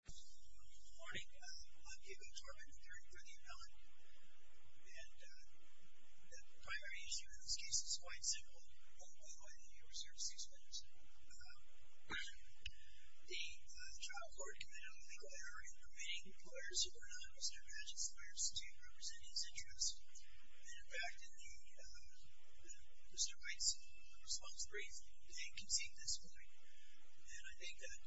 Good morning. I'm Hugo Tormend, attorney for the appellant, and the primary issue in this case is quite simple. Oh, by the way, you reserved six minutes. The trial court committed a legal error in permitting lawyer Superintendent Mr. Padgett's lawyers to represent his interests, and in fact, in the Mr. Wright's response brief, they concede this point. And I think that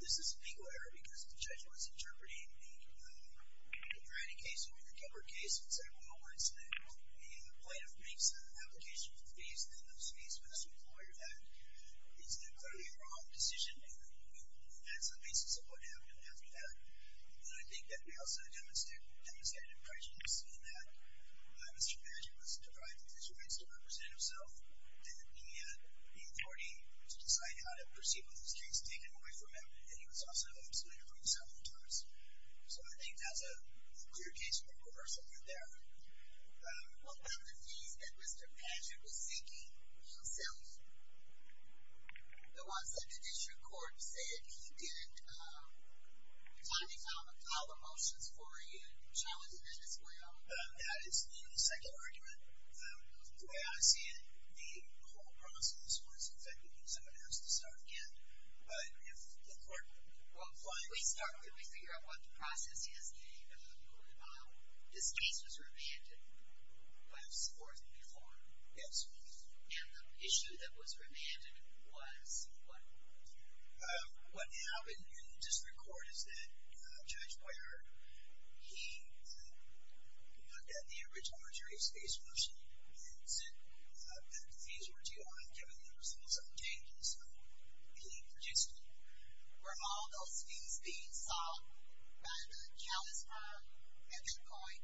this is a legal error because the judge was interpreting the Grady case over the Gilbert case and said, well, once the plaintiff makes an application for the fees, then those fees must be lowered. That is clearly a wrong decision, and that's the basis of what happened after that. And I think that they also demonstrated prejudice in that Mr. Padgett was deprived of his rights to represent himself, and that he had the authority to decide how to proceed with this case taken away from him, and he was also excluded from the settlement terms. So I think that's a clear case of a reversal right there. What about the fees that Mr. Padgett was seeking himself? The ones that the district court said he didn't. Tony, I'm going to call the motions for you, challenging that as well. That is the second argument. The way I see it, the whole process was, in fact, someone has to start again. If the court finds— Well, if we start, can we figure out what the process is? You know, this case was remanded. Yes. Or was it before? Yes. And the issue that was remanded was what? What happened in district court is that Judge Boyard, he looked at the original jury's case motion and said that the fees were due on a given number, so there was some changes in the existing. Were all those fees being sought by the Dallas firm at that point?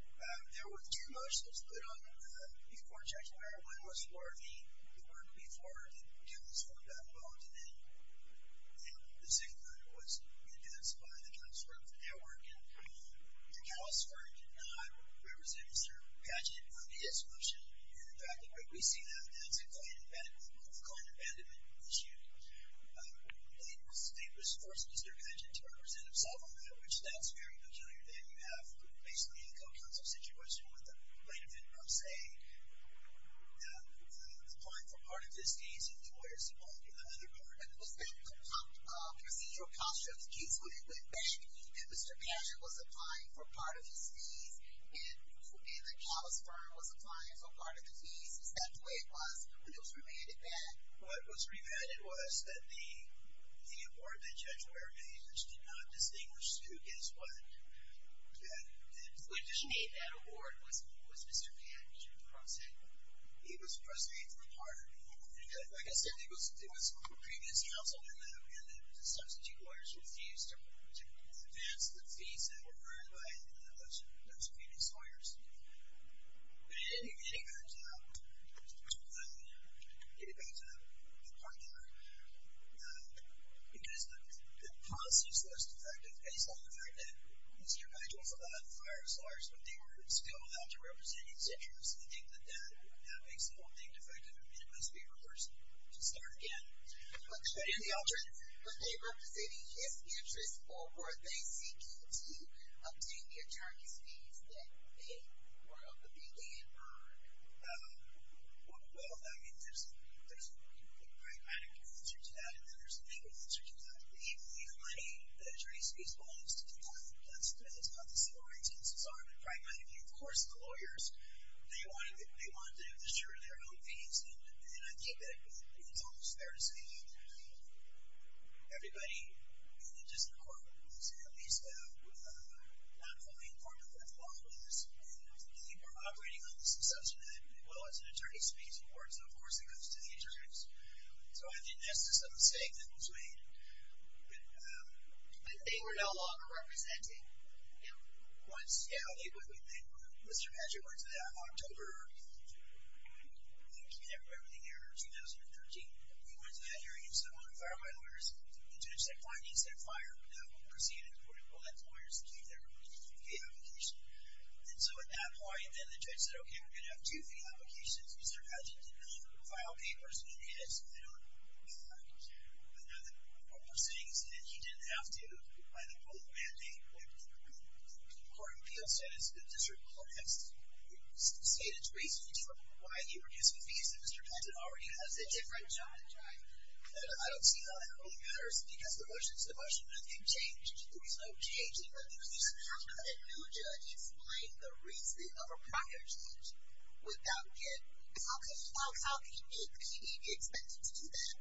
There were two motions put on before Judge Boyard. The first one was for the work before the Dillings firm got involved, and then the second one was re-advanced by the Dallas firm for that work, and the Dallas firm did not represent Mr. Padgett on his motion, and, in fact, the way we see that now is a client abandonment issue. The state was forcing Mr. Padgett to represent himself on that, which sounds very peculiar. Then you have basically a co-counsel situation with the plaintiff, from, say, applying for part of his fees and the lawyer supporting another part. And was that the procedural cost of the case when it went back? That Mr. Padgett was applying for part of his fees and the Dallas firm was applying for part of the fees? Is that the way it was when it was remanded back? What was remanded was that the award that Judge Boyard made, which did not distinguish who gets what, that made that award, was Mr. Padgett's process? He was processing it a little harder. Like I said, it was a previous counsel, and the substitute lawyers refused to advance the fees that were earned by those previous lawyers. But in any event, getting back to my partner, because the policy is less effective based on the fact that Mr. Padgett was allowed to fire his lawyers, but they were still allowed to represent his interests, I think that that now makes the whole thing defective, and it must be reversed to start again. But in the opposite, were they representing his interests, or were they seeking to obtain the attorney's fees that they were able to gain or earn? Well, I mean, there's a pragmatic answer to that, and then there's a legal answer to that. The legal money, the attorney's fees, belongs to the client. That's not the civil rights answer. So I think pragmatically, of course, the lawyers, they want to assure their own fees, and I think that it's almost fair to say that everybody, even just the court, is at least not fully informed of what the law is, and they were operating on this assumption that, well, it's an attorney's fees award, so of course it goes to the attorneys. So I think that's just a mistake that was made. But they were no longer representing him? Once, yeah. Mr. Padgett went to that October, I think, you can't remember the year, 2013. He went to that hearing and said, well, I'm going to fire my lawyers. The judge said, fine. He said, fire. We'll proceed at the point. We'll let the lawyers keep their fees application. And so at that point, then the judge said, OK, we're going to have two fee applications. Mr. Padgett did not file papers in his own court proceedings, and he didn't have to by the rule of mandate. Court of Appeals says the district court has stated it's reasonable to report why he produced the fees, and Mr. Padgett already has a different charge. And I don't see how that really matters, because the motions have changed. There was no change in the motions. How could a new judge explain the reasoning of a prior judge with that bid? How can you make the PD be expected to do that?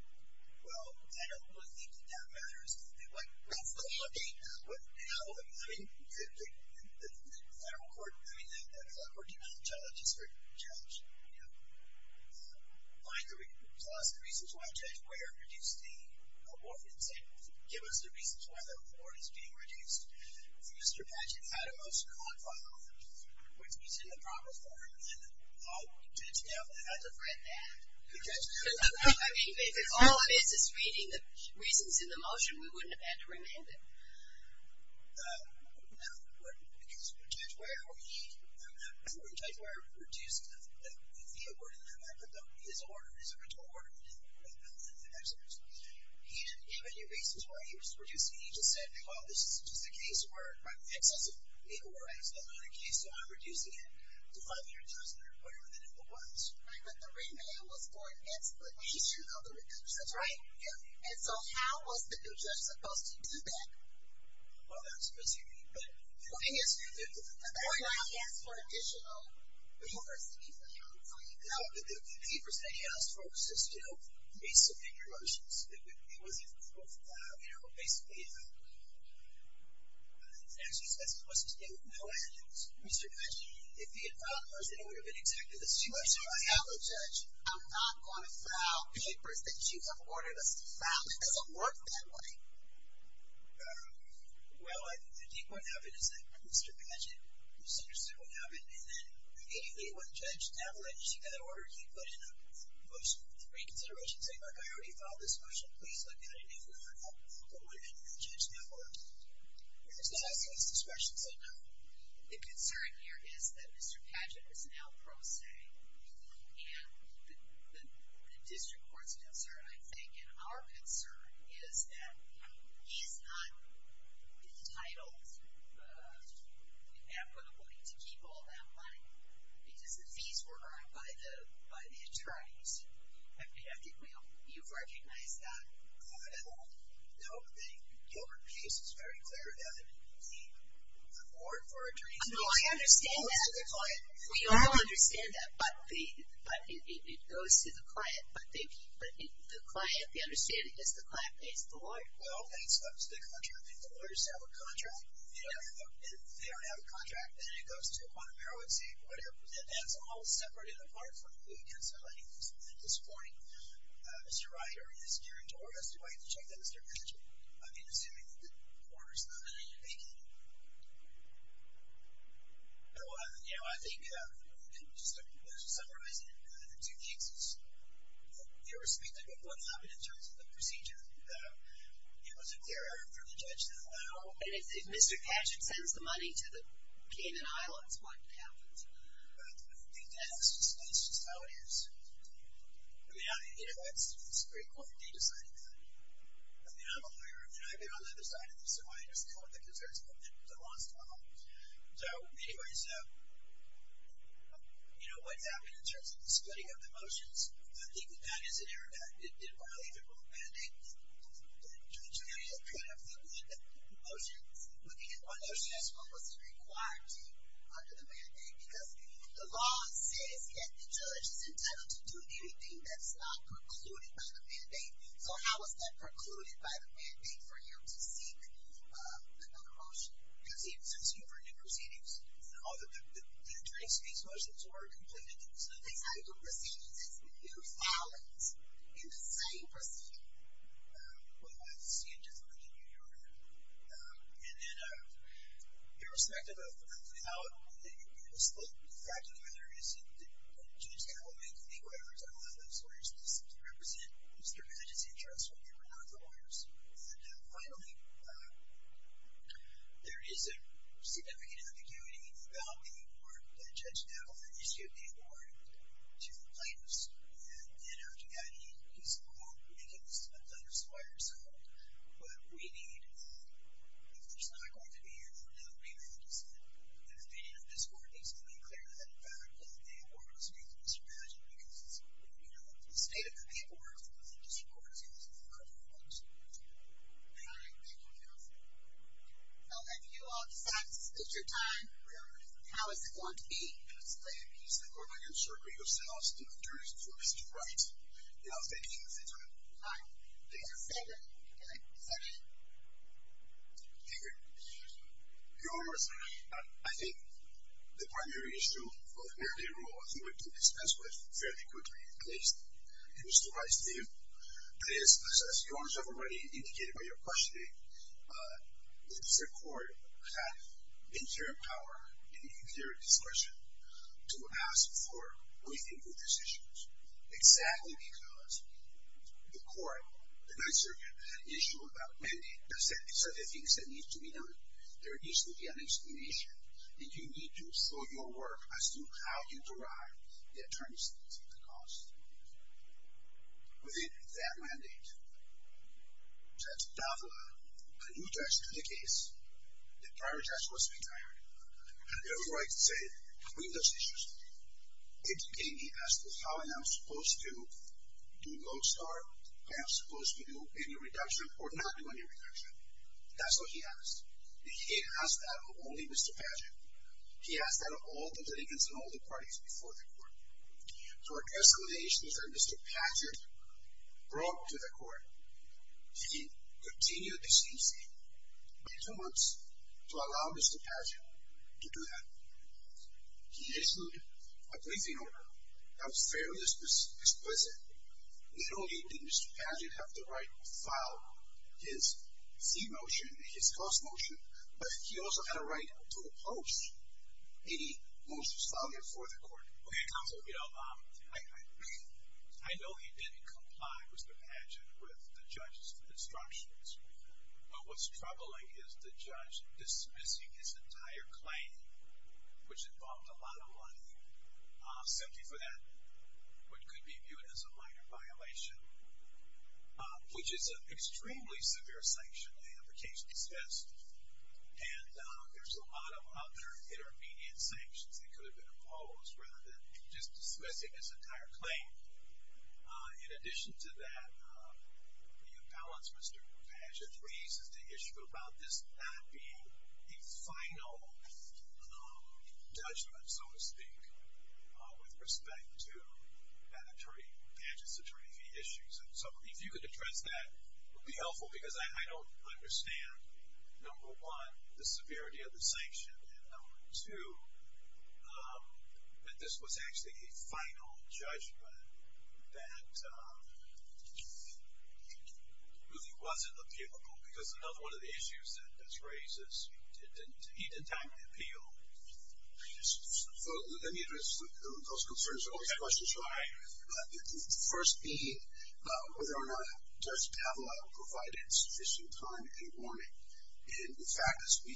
Well, I don't really think that that matters. What's the mandate now? I mean, the federal court, I mean, the federal court did not challenge the district judge. Find the reason, tell us the reasons why a judge would have produced the abortion and say, give us the reasons why the award is being reduced. Mr. Padgett had a motion on file, which he's in the promise form, and all we did is have him read that. I mean, if all it is is reading the reasons in the motion, we wouldn't have had to remand it. No, because when Judge Weyer produced the abortion, his original order, he didn't give any reasons why he was reducing it. He just said, well, this is just a case where excessive legal work has been done on a case, so I'm reducing it to five-year judgment or whatever the number was. Right, but the remand was for an explicit issue of the reduction. That's right. And so how was the new judge supposed to do that? Well, that's a good question. But the thing is, that's why I asked for additional papers to be filed for you. No, but the papers that he asked for was just, you know, to make some bigger motions. It wasn't, you know, basically, it's actually supposed to stay with NOAA. Mr. Padgett, if he had filed those, then it would have been exactly the same. I'm sorry, Avalon Judge. I'm not going to file papers that you have ordered us to file. It doesn't work that way. Well, I think what happened is that Mr. Padgett was interested in what happened, and then immediately when Judge Avalon issued another order, he put in a motion for reconsideration, saying, look, I already filed this motion. Please look at it if you want help, but what if a new judge now works? And so I think it's discretion, so no. The concern here is that Mr. Padgett is now pro se, and the district court's concerned, I think. And our concern is that he's not entitled equitably to keep all that money, because the fees were earned by the attorneys. I think you've recognized that. No. Your case is very clear that the board for attorneys keeps all of the client. No, I understand that. We all understand that. But it goes to the client. But the client, the understanding is the client pays the lawyer. No, it's up to the contract. If the lawyers have a contract, and they don't have a contract, then it goes to a quantum heroin safe, whatever. And that's all separate and apart from who gets the money at this point. Mr. Wright, or Mr. White, to check that Mr. Padgett, I mean, assuming that the court is not in a vacancy. So I think, just to summarize it, the two cases, irrespective of what happened in terms of the procedure, it was a clear-earned for the judge to allow. And if Mr. Padgett sends the money to the Cayman Islands, what happens? I think that's just how it is. I mean, you know, that's a great point. They decided that. I mean, I'm a lawyer. And I've been on the other side of this. So I understand what the concern is. But it's a lost cause. So anyways, you know, what happened in terms of the splitting of the motions, I think that is an error. That didn't violate the rule of mandate. The jury is kind of looking at the motions, looking at what motions, what was it required to under the mandate. Because the law says that the judge is entitled to do anything that's not precluded by the mandate. So how was that precluded by the mandate for him to seek another motion? Because he was asking for new proceedings. And all of the attorney's case motions were completed. So they decided to do proceedings. So this is new silence in the same proceeding. Well, I see it differently than you, Your Honor. And then irrespective of how the split, the fact of the matter is that Judge Kavanaugh and the acquirers don't allow those lawyers to represent Mr. Badgett's interests when they were not the lawyers. And finally, there is a significant ambiguity about the report that Judge Kavanaugh issued the award to the plaintiffs. And then after that, he's quote, making the split plaintiffs square. So what we need is, if there's not going to be another remand, is that the opinion of this court needs to be clear that, in fact, that the award was made to Mr. Badgett. Because the state of the paperwork that the district court is using is not correct. All right. Thank you, counsel. I'll let you all decide. This is district time. Your Honor. How is it going to be? It's fine. Please go back and circle yourselves to the jury's choice to write. And I'll thank you for your time. Thank you. Thank you. Thank you. Thank you. Thank you. Your Honor, I think the primary issue of merely a rule that we can dispense with fairly quickly, at least in Mr. Badgett's view, is, as Your Honor has already indicated by your questioning, the district court had inferior power and inferior discretion to ask for within-proof decisions, exactly because the court, the Ninth Circuit, issued a mandate that said, these are the things that need to be done. There needs to be an explanation. And you need to show your work as to how you derive the attorneys fees, the cost. Within that mandate, that's not a new test to the case. The prior test was retired. And therefore, I can say, we have those issues. Indicating he asked how am I supposed to do gold star, am I supposed to do any reduction, or not do any reduction. That's what he asked. And he asked that of only Mr. Badgett. He asked that of all the litigants and all the parties before the court. So our explanation is that Mr. Badgett broke to the court. He continued the same thing. It took two months to allow Mr. Badgett to do that. He issued a briefing order that was fairly explicit. Not only did Mr. Badgett have the right to file his fee motion and his cost motion, but he also had a right to oppose any motions filed before the court. OK, counsel. I know he didn't comply, Mr. Badgett, with the judge's instructions. But what's troubling is the judge dismissing his entire claim, which involved a lot of money, simply for that what could be viewed as a minor violation, which is an extremely severe sanction. The implication is this. And there's a lot of other intermediate sanctions that could have been imposed, rather than just dismissing his entire claim. In addition to that, the imbalance Mr. Badgett raises to issue about this not being a final judgment, so to speak, with respect to Badgett's attorney fee issues. And so if you could address that, it would be helpful, because I don't understand, number one, the severity of the sanction. And number two, that this was actually a final judgment that really wasn't appealable, because another one of the issues that's raised is he didn't time the appeal. Let me address those concerns. I always have questions. All right. The first being, whether or not Judge Pavela provided sufficient time and warning. And in fact, as we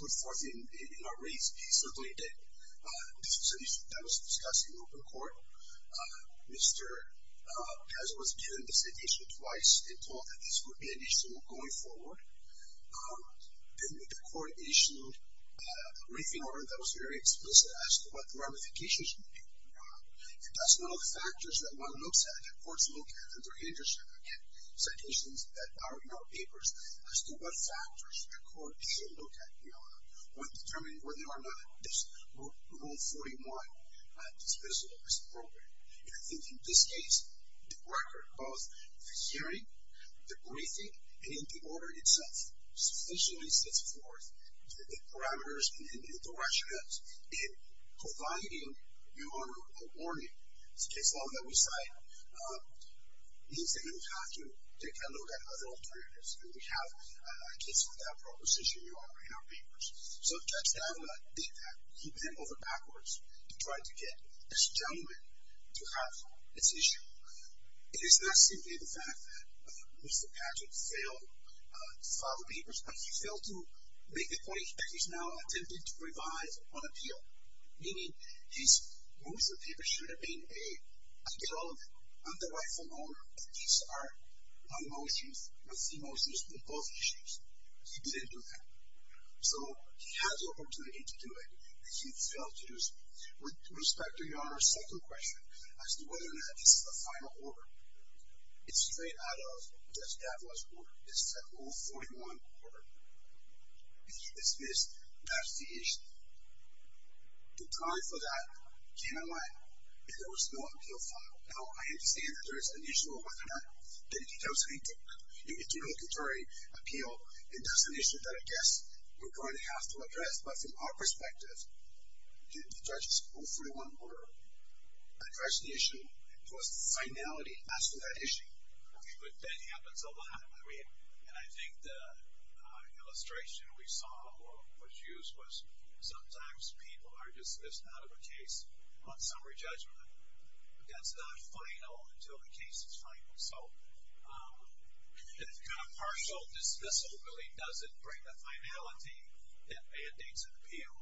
put forth in our briefs, he certainly did. This is an issue that was discussed in open court. Mr. Pez was given the citation twice and told that this would be an issue going forward. Then the court issued a briefing order that was very explicit as to what the ramifications would be. And that's one of the factors that one looks at, that courts look at, and they're interested in citations that are in our papers, as to what factors the court should look at in order to determine whether or not this Rule 41 is visible as appropriate. And I think in this case, the record of the hearing, the briefing, and the order itself sufficiently sets forth the parameters and the rationales in providing your owner a warning, in the case law that we cite, means that we have to take a look at other alternatives. And we have a case for that proposition in our papers. So Judge Pavela did that. He went over backwards to try to get this gentleman to have its issue. It is not simply the fact that Mr. Padgett failed to file the papers, but he failed to make the point that he's now attempting to revise on appeal. Meaning, most of the papers should have been, hey, I get all of them. I'm the rightful owner. And these are my motions. My three motions. They're both issues. He didn't do that. So he has the opportunity to do it. But he failed to do so. With respect to your Honor's second question, as to whether or not this is the final order, it's straight out of Judge Pavela's work. This is a Rule 41 order. If he dismissed, that's the issue. The time for that came and went. And there was no appeal filed. Now, I understand that there is an issue of whether or not that he does make an interlocutory appeal. And that's an issue that, I guess, we're going to have to address. But from our perspective, did the judge's Rule 41 order address the issue? It was the finality as to that issue. But that happens a lot. And I think the illustration we saw, or was used, was sometimes people are dismissed out of a case on summary judgment. But that's not final until the case is final. So this kind of partial dismissal really doesn't bring the finality that mandates an appeal.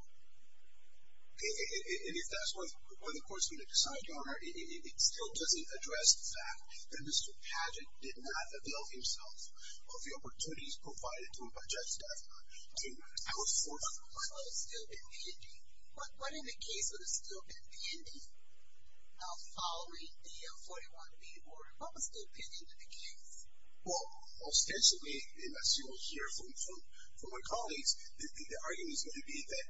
And if that's what the court's going to decide, Your Honor, it still doesn't address the fact that Mr. Padgett did not avail himself of the opportunities provided to him by Judge Daffner. I was forewarned. But what in the case would have still been pending? Now, following the 41B order, what was still pending in the case? Well, ostensibly, as you will hear from my colleagues, the argument is going to be that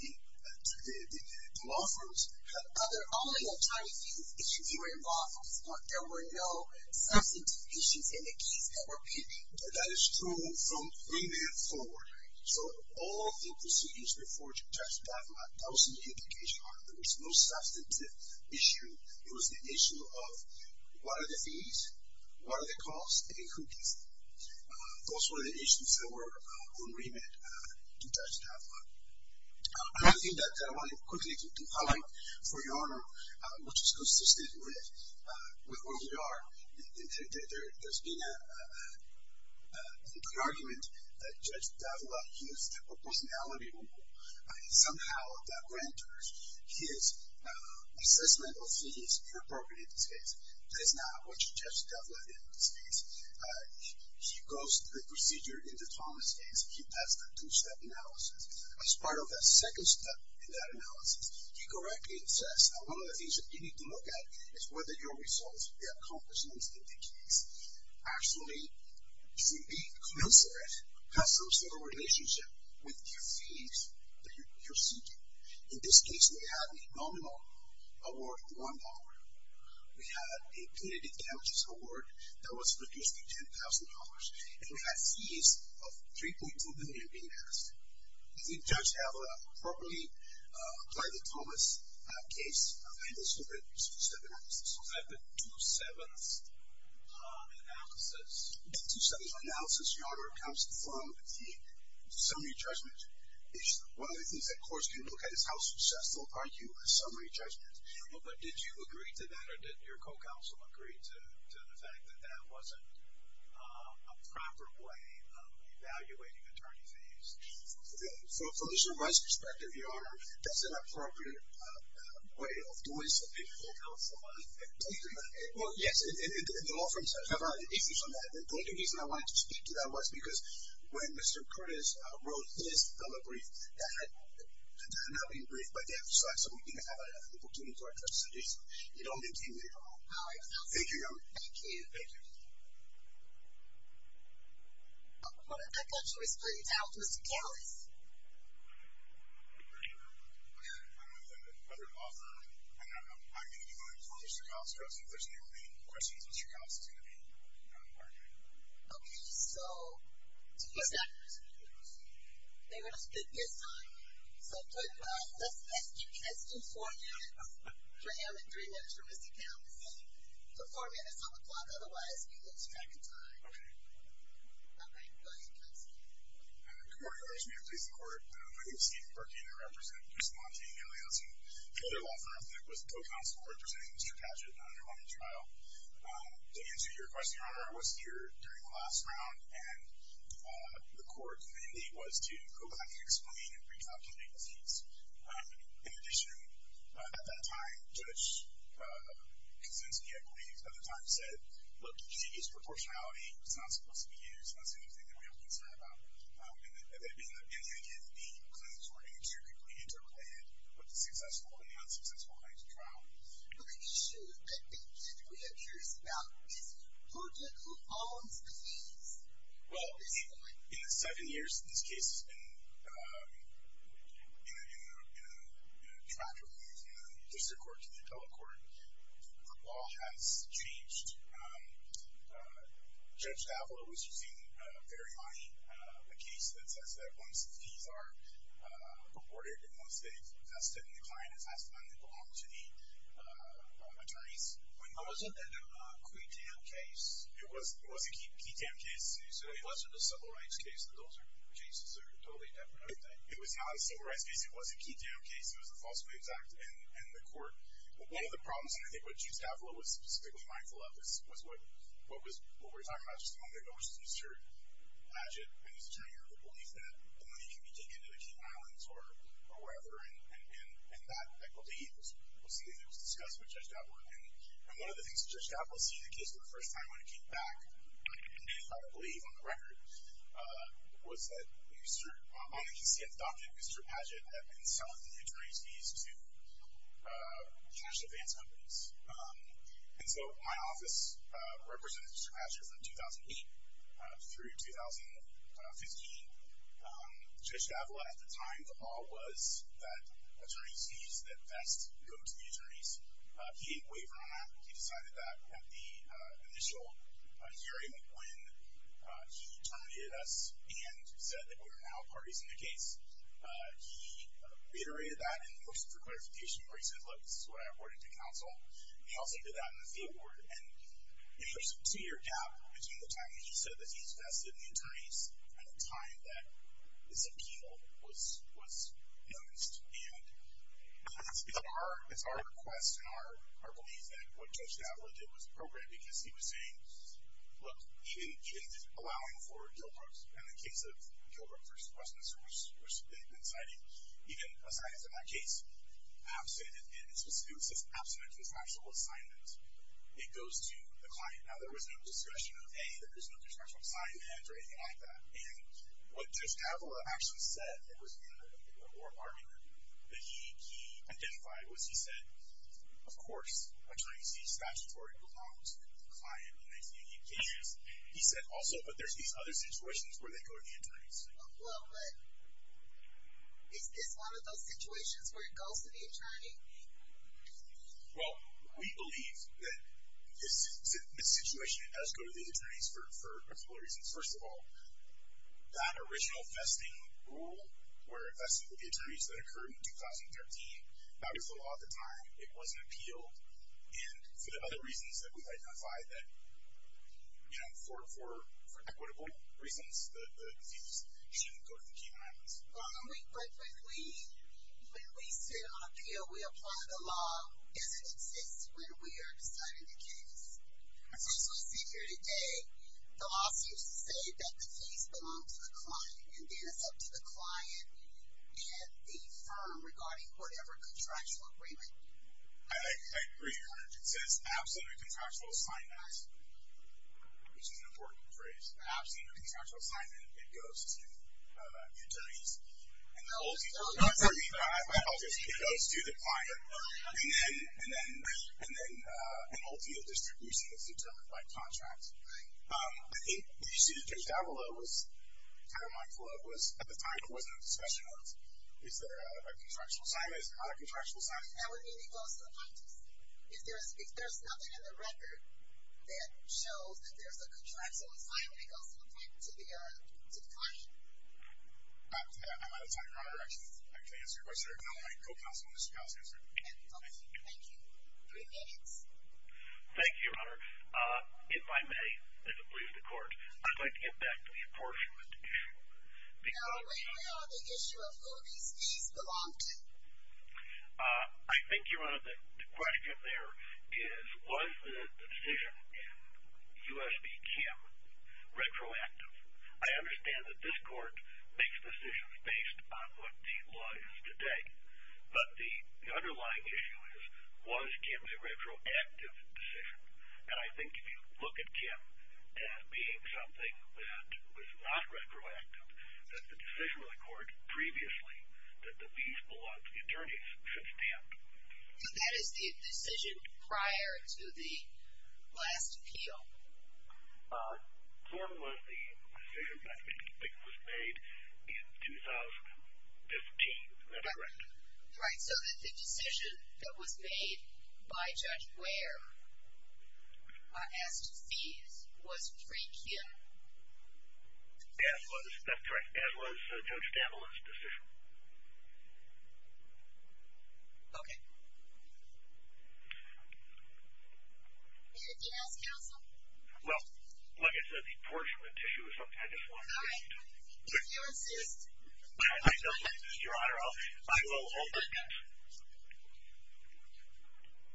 the law firms had other only attorney fees if you were involved from the start. There were no substantive issues in the case that were pending. That is true from then forward. So all of the procedures before Judge Daffner, that was the indication, Your Honor, there was no substantive issue. It was the issue of what are the fees, what are the costs, and who pays them. Those were the issues that were on remit to Judge Daffner. Another thing that I wanted quickly to highlight for Your Honor, which is consistent with what you are, there's been an argument that Judge Daffner, he used a personality rule somehow that renders his assessment of fees inappropriate in this case. That is not what Judge Daffner did in this case. He goes through the procedure in the Thomas case. He does the two-step analysis. As part of that second step in that analysis, he correctly assesses. Now, one of the things that you need to look at is whether your results, the accomplishments in the case, actually, to be considered, have some sort of relationship with the fees that you're seeking. In this case, we have a nominal award of $1. We had a punitive damages award that was reduced to $10,000. And we had fees of $3.2 million being asked. Does the judge have a properly, by the Thomas case, understood the two-step analysis? So that's the two-seventh analysis. The two-seventh analysis, Your Honor, comes from the summary judgment. One of the things that courts can look at is how successful are you in summary judgment. But did you agree to that, or did your co-counsel agree to the fact that that wasn't a proper way of evaluating attorney fees? From the jurist's perspective, Your Honor, that's an appropriate way of doing something for counsel. Well, yes, the law firms have had issues on that. And the only reason I wanted to speak to that was because when Mr. Curtis wrote his telebrief, that had not been briefed by them. So I said we didn't have an opportunity to address the issue. It only came later on. All right. Thank you, Your Honor. Thank you. Thank you. I thought you were splitting time with Mr. Kalisz. I'm not sure. I'm with another law firm. I'm going to be going to Mr. Kalisz first. If there's any remaining questions, Mr. Kalisz is going to be part of that. OK. So two seconds. They're going to split this time. So let's do four minutes for him and three minutes for Mr. Kalisz. So four minutes on the clock. Otherwise, we lose track of time. OK. All right. Go ahead, counsel. Good morning, Your Honor. I just want to please the Court. My name is Stephen Burkina. I represent Bruce Monte and Gail Yeltsin. The other law firm that was the co-counsel representing Mr. Kadgett in the underlying trial. To answer your question, Your Honor, I was here during the last round. And the Court's mandate was to go back and explain and recalculate the seats. In addition, at that time, Judge Kosinski, I believe, at the time said, look, you can't use proportionality. It's not supposed to be used. And that's the only thing that we have to be concerned about. And the idea that the claims were inextricably interrelated with the successful and the unsuccessful lines of trial. Well, in the seven years that this case has been in the tract of moving the district court to the appellate court, the law has changed. Judge Daffler was using very high, a case that says that once the fees are reported, once they've invested in the client, it has to then belong to the attorneys. But wasn't that a qui tam case? It was a qui tam case. So it wasn't a civil rights case. Those are cases that are totally different, aren't they? It was not a civil rights case. It wasn't a qui tam case. It was a false claims act. And the court, one of the problems, and I think what Judge Daffler was specifically mindful of, was what we were talking about just a moment ago, which is Mr. Paget and his turning of the belief that the money can be taken to the King Islands or wherever. And that equity was something that was discussed with Judge Daffler. And one of the things that Judge Daffler seeing the case for the first time when it came back, I believe on the record, was that on the consent docket, Mr. Paget had been selling the attorney's fees to cash advance companies. And so my office represented Mr. Paget from 2008 through 2015. Judge Daffler, at the time, the law was that attorney's fees that vest go to the attorneys. He didn't waiver on that. He decided that at the initial hearing, when he terminated us and said that we were now parties in the case, he reiterated that in the motion for clarification, where he said, look, this is what I awarded to counsel. He also did that in the fee board. And there's a two-year gap between the time that he said that he's vested in the attorneys and the time that this appeal was announced. And it's our request and our belief that what Judge Daffler did was appropriate because he was saying, look, even allowing for Gilbrook's and the case of Gilbrook versus Westminster, which they've been citing, even assignments in that case, absent, it was just absent of contractual assignments. It goes to the client. Now there was no discussion of, hey, there's no contractual assignments or anything like that. And what Judge Daffler actually said, it was in the oral argument that he identified, was he said, of course, attorneys see statutory belongs to the client and they see it in cases. He said also, but there's these other situations where they go to the attorneys. Well, but is this one of those situations where it goes to the attorney? Well, we believe that the situation does go to the attorneys for a couple of reasons. First of all, that original vesting rule where it vested with the attorneys that occurred in 2013, that was the law at the time. It wasn't appealed. And for the other reasons that we've identified that, you know, for, for, for equitable reasons, the defeats shouldn't go to the Cayman Islands. But when we, when we sit on appeal, we apply the law as it exists when we are deciding the case. So as we sit here today, the lawsuits say that the case belongs to the client and then it's up to the client and the firm regarding whatever contractual agreement. I agree. It says absolutely contractual assignment, which is an important phrase. Absolutely. Contractual assignment. It goes to the attorneys. It goes to the client and then, and then, and then an ultimate distribution is determined by contract. I think you see the case down below was kind of mindful of was at the time it wasn't a special note. Is there a contractual assignment? Is there not a contractual assignment? That would mean it goes to the plaintiffs. If there's, if there's nothing in the record that shows that there's a contractual assignment, it goes to the, to the, to the client. I'm out of time. I'm out of directions. I can't answer your question. Thank you. Three minutes. Thank you, Your Honor. If I may, if it pleases the court, I'd like to get back to the apportionment issue. Now, where we are on the issue of who these fees belong to? I think, Your Honor, the question there is, was the decision in U.S.B. Kim retroactive? I understand that this court makes decisions based on what the law is today. But the underlying issue is, was Kim a retroactive decision? And I think if you look at Kim as being something that was not retroactive, that the decision of the court previously that the fees belong to the attorneys should stand. So that is the decision prior to the last appeal. The form was the decision that was made in 2015. Is that correct? Right. So the decision that was made by Judge Ware as to fees was pre-Kim? That's correct. That was Judge Damblin's decision. Okay. Anything else, Counsel? Well, like I said, the apportionment issue is something I just want to get into. All right. If you insist. Your Honor, I will open it.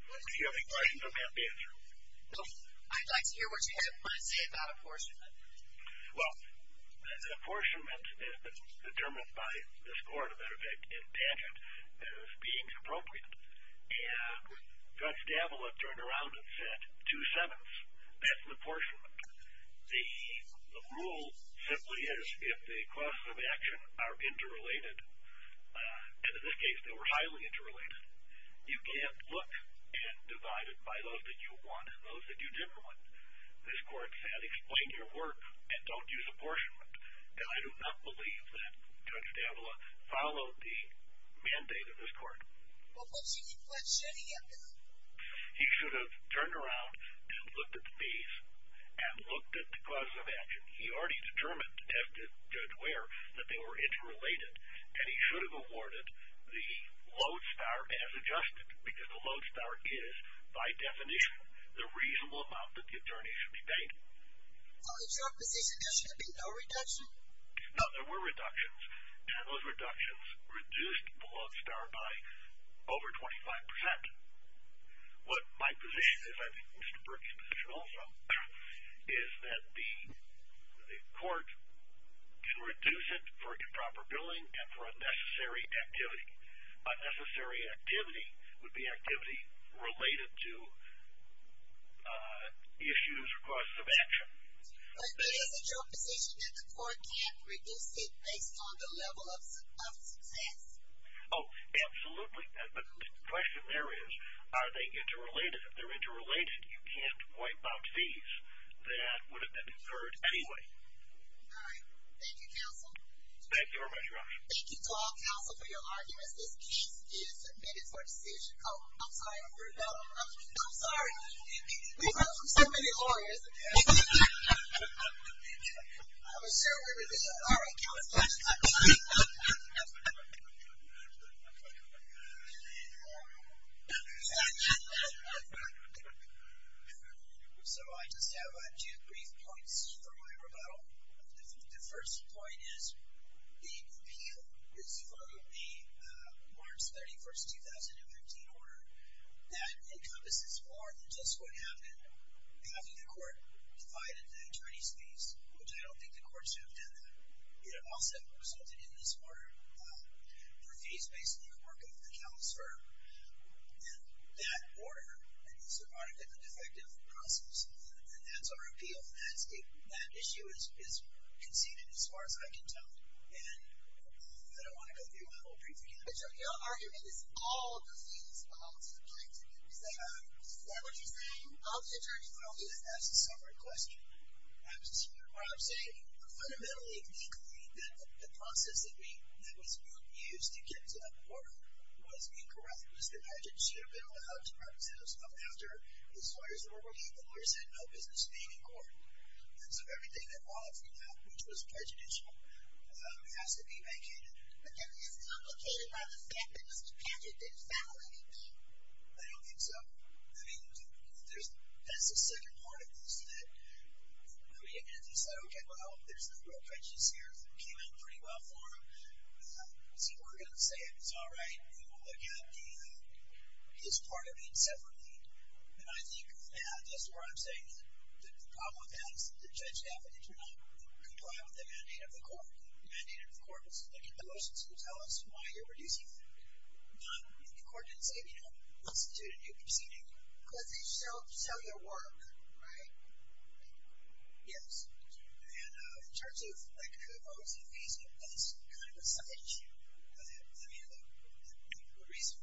Do you have any questions? I'm happy to answer them. No. I'd like to hear what you have to say about apportionment. Well, apportionment is determined by this court, and Judge Damblin turned around and said, two-sevenths, that's an apportionment. The rule simply is if the costs of action are interrelated, and in this case, they were highly interrelated, you can't look and divide it by those that you want and those that you didn't want. This court said, explain your work and don't use apportionment. I do not believe that Judge Damblin followed the mandate of this court. Well, what does he mean by that? He should have turned around and looked at the fees and looked at the costs of action. He already determined, detested Judge Ware, that they were interrelated, and he should have awarded the Lodestar as adjusted because the Lodestar is, by definition, the reasonable amount that the attorney should be paying. Is there a position that there should be no reduction? No, there were reductions, and those reductions reduced the Lodestar by over 25%. What my position is, and I think Mr. Burke's position also, is that the court can reduce it for improper billing and for unnecessary activity. Unnecessary activity would be activity related to issues, costs of action. But is it your position that the court can't reduce it based on the level of success? Oh, absolutely. The question there is, are they interrelated? If they're interrelated, you can't wipe out fees. That would have been incurred anyway. All right. Thank you, counsel. Thank you very much, Rochelle. Thank you to all counsel for your arguments. This case is submitted for decision. Oh, I'm sorry. I'm sorry. We've heard from so many lawyers. I'm sorry. All right. Counsel. So I just have two brief points for my rebuttal. The first point is the appeal is for the March 31st, 2015 order. That encompasses more than just what happened after the court divided the attorney's fees, which I don't think the court should have done that. It also resulted in this order for fees based on the work of the counsel's firm. And that order is a part of a defective process. And that's our appeal. That issue is conceded as far as I can tell. And I don't want to go through my whole brief again. But your argument is all of the fees belong to the plaintiff. Is that what you're saying? Of the attorney? That's a separate question. I was just hearing what I'm saying. Fundamentally, legally, the process that we, that was used to get to the court was incorrect. It was the budget. She had been allowed to represent us up after the lawyers were working. The lawyers had no business being in court. And so everything that followed from that, which was prejudicial, has to be vacated. It's complicated by the fact that Mr. Patrick didn't file anything. I don't think so. I mean, there's, that's the second part of this that I mean, as you said, okay, well, there's no real prejudice here. It came out pretty well for him. So we're going to say, it's all right. We will look at the, his part of it separately. And I think, yeah, just where I'm saying that the problem with that is that the judge affidavit did not comply with the mandate of the court. The mandate of the court was to look at the motions and tell us why you're reducing them. The court didn't say, you know, let's do a new proceeding because they sell, sell your work, right? Yes. And in terms of like who owns the fees, that's kind of a side issue. I mean, the reason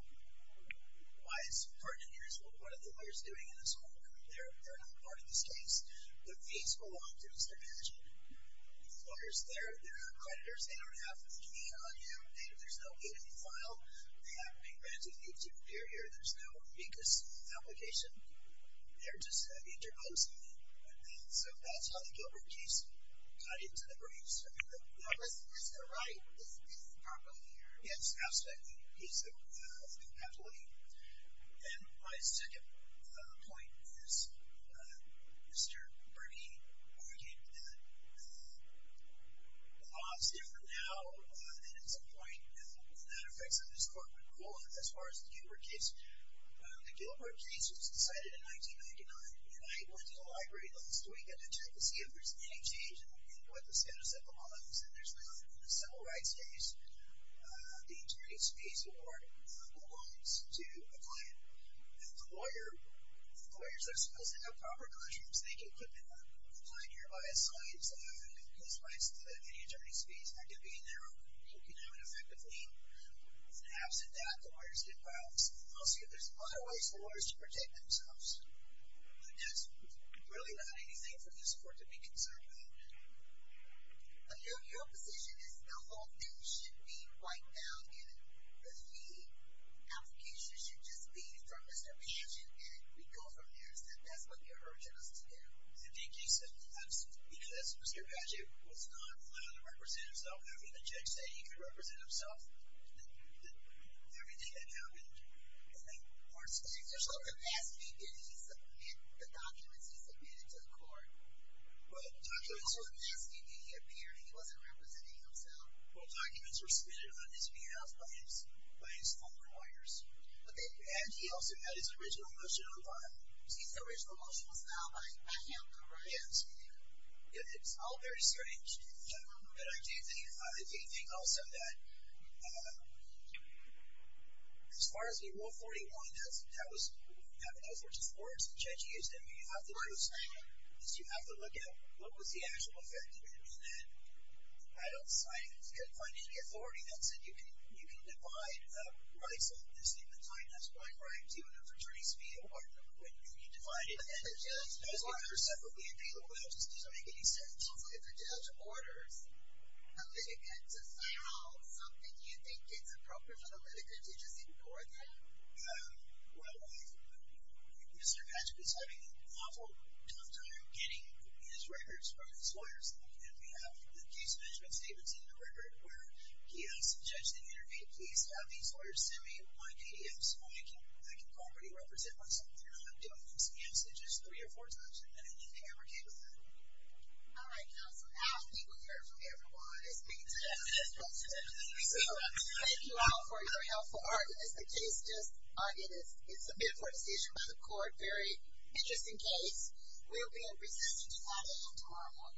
why it's important here is what are the lawyers doing in this court? they're not part of this case. The fees belong to Mr. Lawyers. They're, they're creditors. They don't have to be on you. There's no way to be filed. They haven't been granted a due period. There's no meekness application. They're just interposing them. So that's how the Gilbert case got into the breeze. I mean, it's the right. It's the proper. Yes. Aspect. He's the, the compatibility. And my second point is Mr. Bernie. When we came to that, it's different now. And at some point, that affects on this corporate role. As far as the Gilbert case, the Gilbert case was decided in 1999. And I went to the library the last week to check to see if there's any change in what the status of the law is. And there's not a civil rights case. The interior space award belongs to a client. And the lawyer, the lawyers are supposed to have proper classrooms. So they can put the client here by a sign. So they don't have to give police rights to the interior space. They're going to be in their own. You can have an effective lien. Absent that the lawyers get violence. I'll see if there's other ways for lawyers to protect themselves. There's really not anything for this court to be concerned about. I know your position is the whole thing should be wiped out. And the fee application should just be from Mr. Pageant. And we go from there and said, that's what you're urging us to do. You know, that's Mr. Pageant was not allowed to represent himself. I mean, the judge said he could represent himself. Everything that happened. The documents he submitted to the court. He wasn't representing himself. Well, documents were submitted on his behalf by his, by his own lawyers. And he also had his original motion on file. His original motion was now by him. It's all very strange. But I do think, I do think also that as far as the rule 41, that was, that was just words the judge used. I mean, you have to look at what was the actual effect of it. I mean, that I don't find any authority that said you can, you can't, you can't divide rights and the state, the kind of spying right to a fraternity speed apartment. When you need to find it. Separately available. It just doesn't make any sense. If the judge orders. You think it's appropriate for the litigant to just ignore them? Well, Mr. Patrick was having an awful tough time getting his records from his office. He's got these orders. Send me my PDFs. I can, I can already represent myself. You know, I'm doing these messages three or four times in a minute. Anything ever came up? All right. Council. I think we heard from everyone. Thank you all for your helpful. All right. It's the case. Just it is. It's a bit for a decision by the court. Very interesting case. We'll be in. Thank you. Thank you.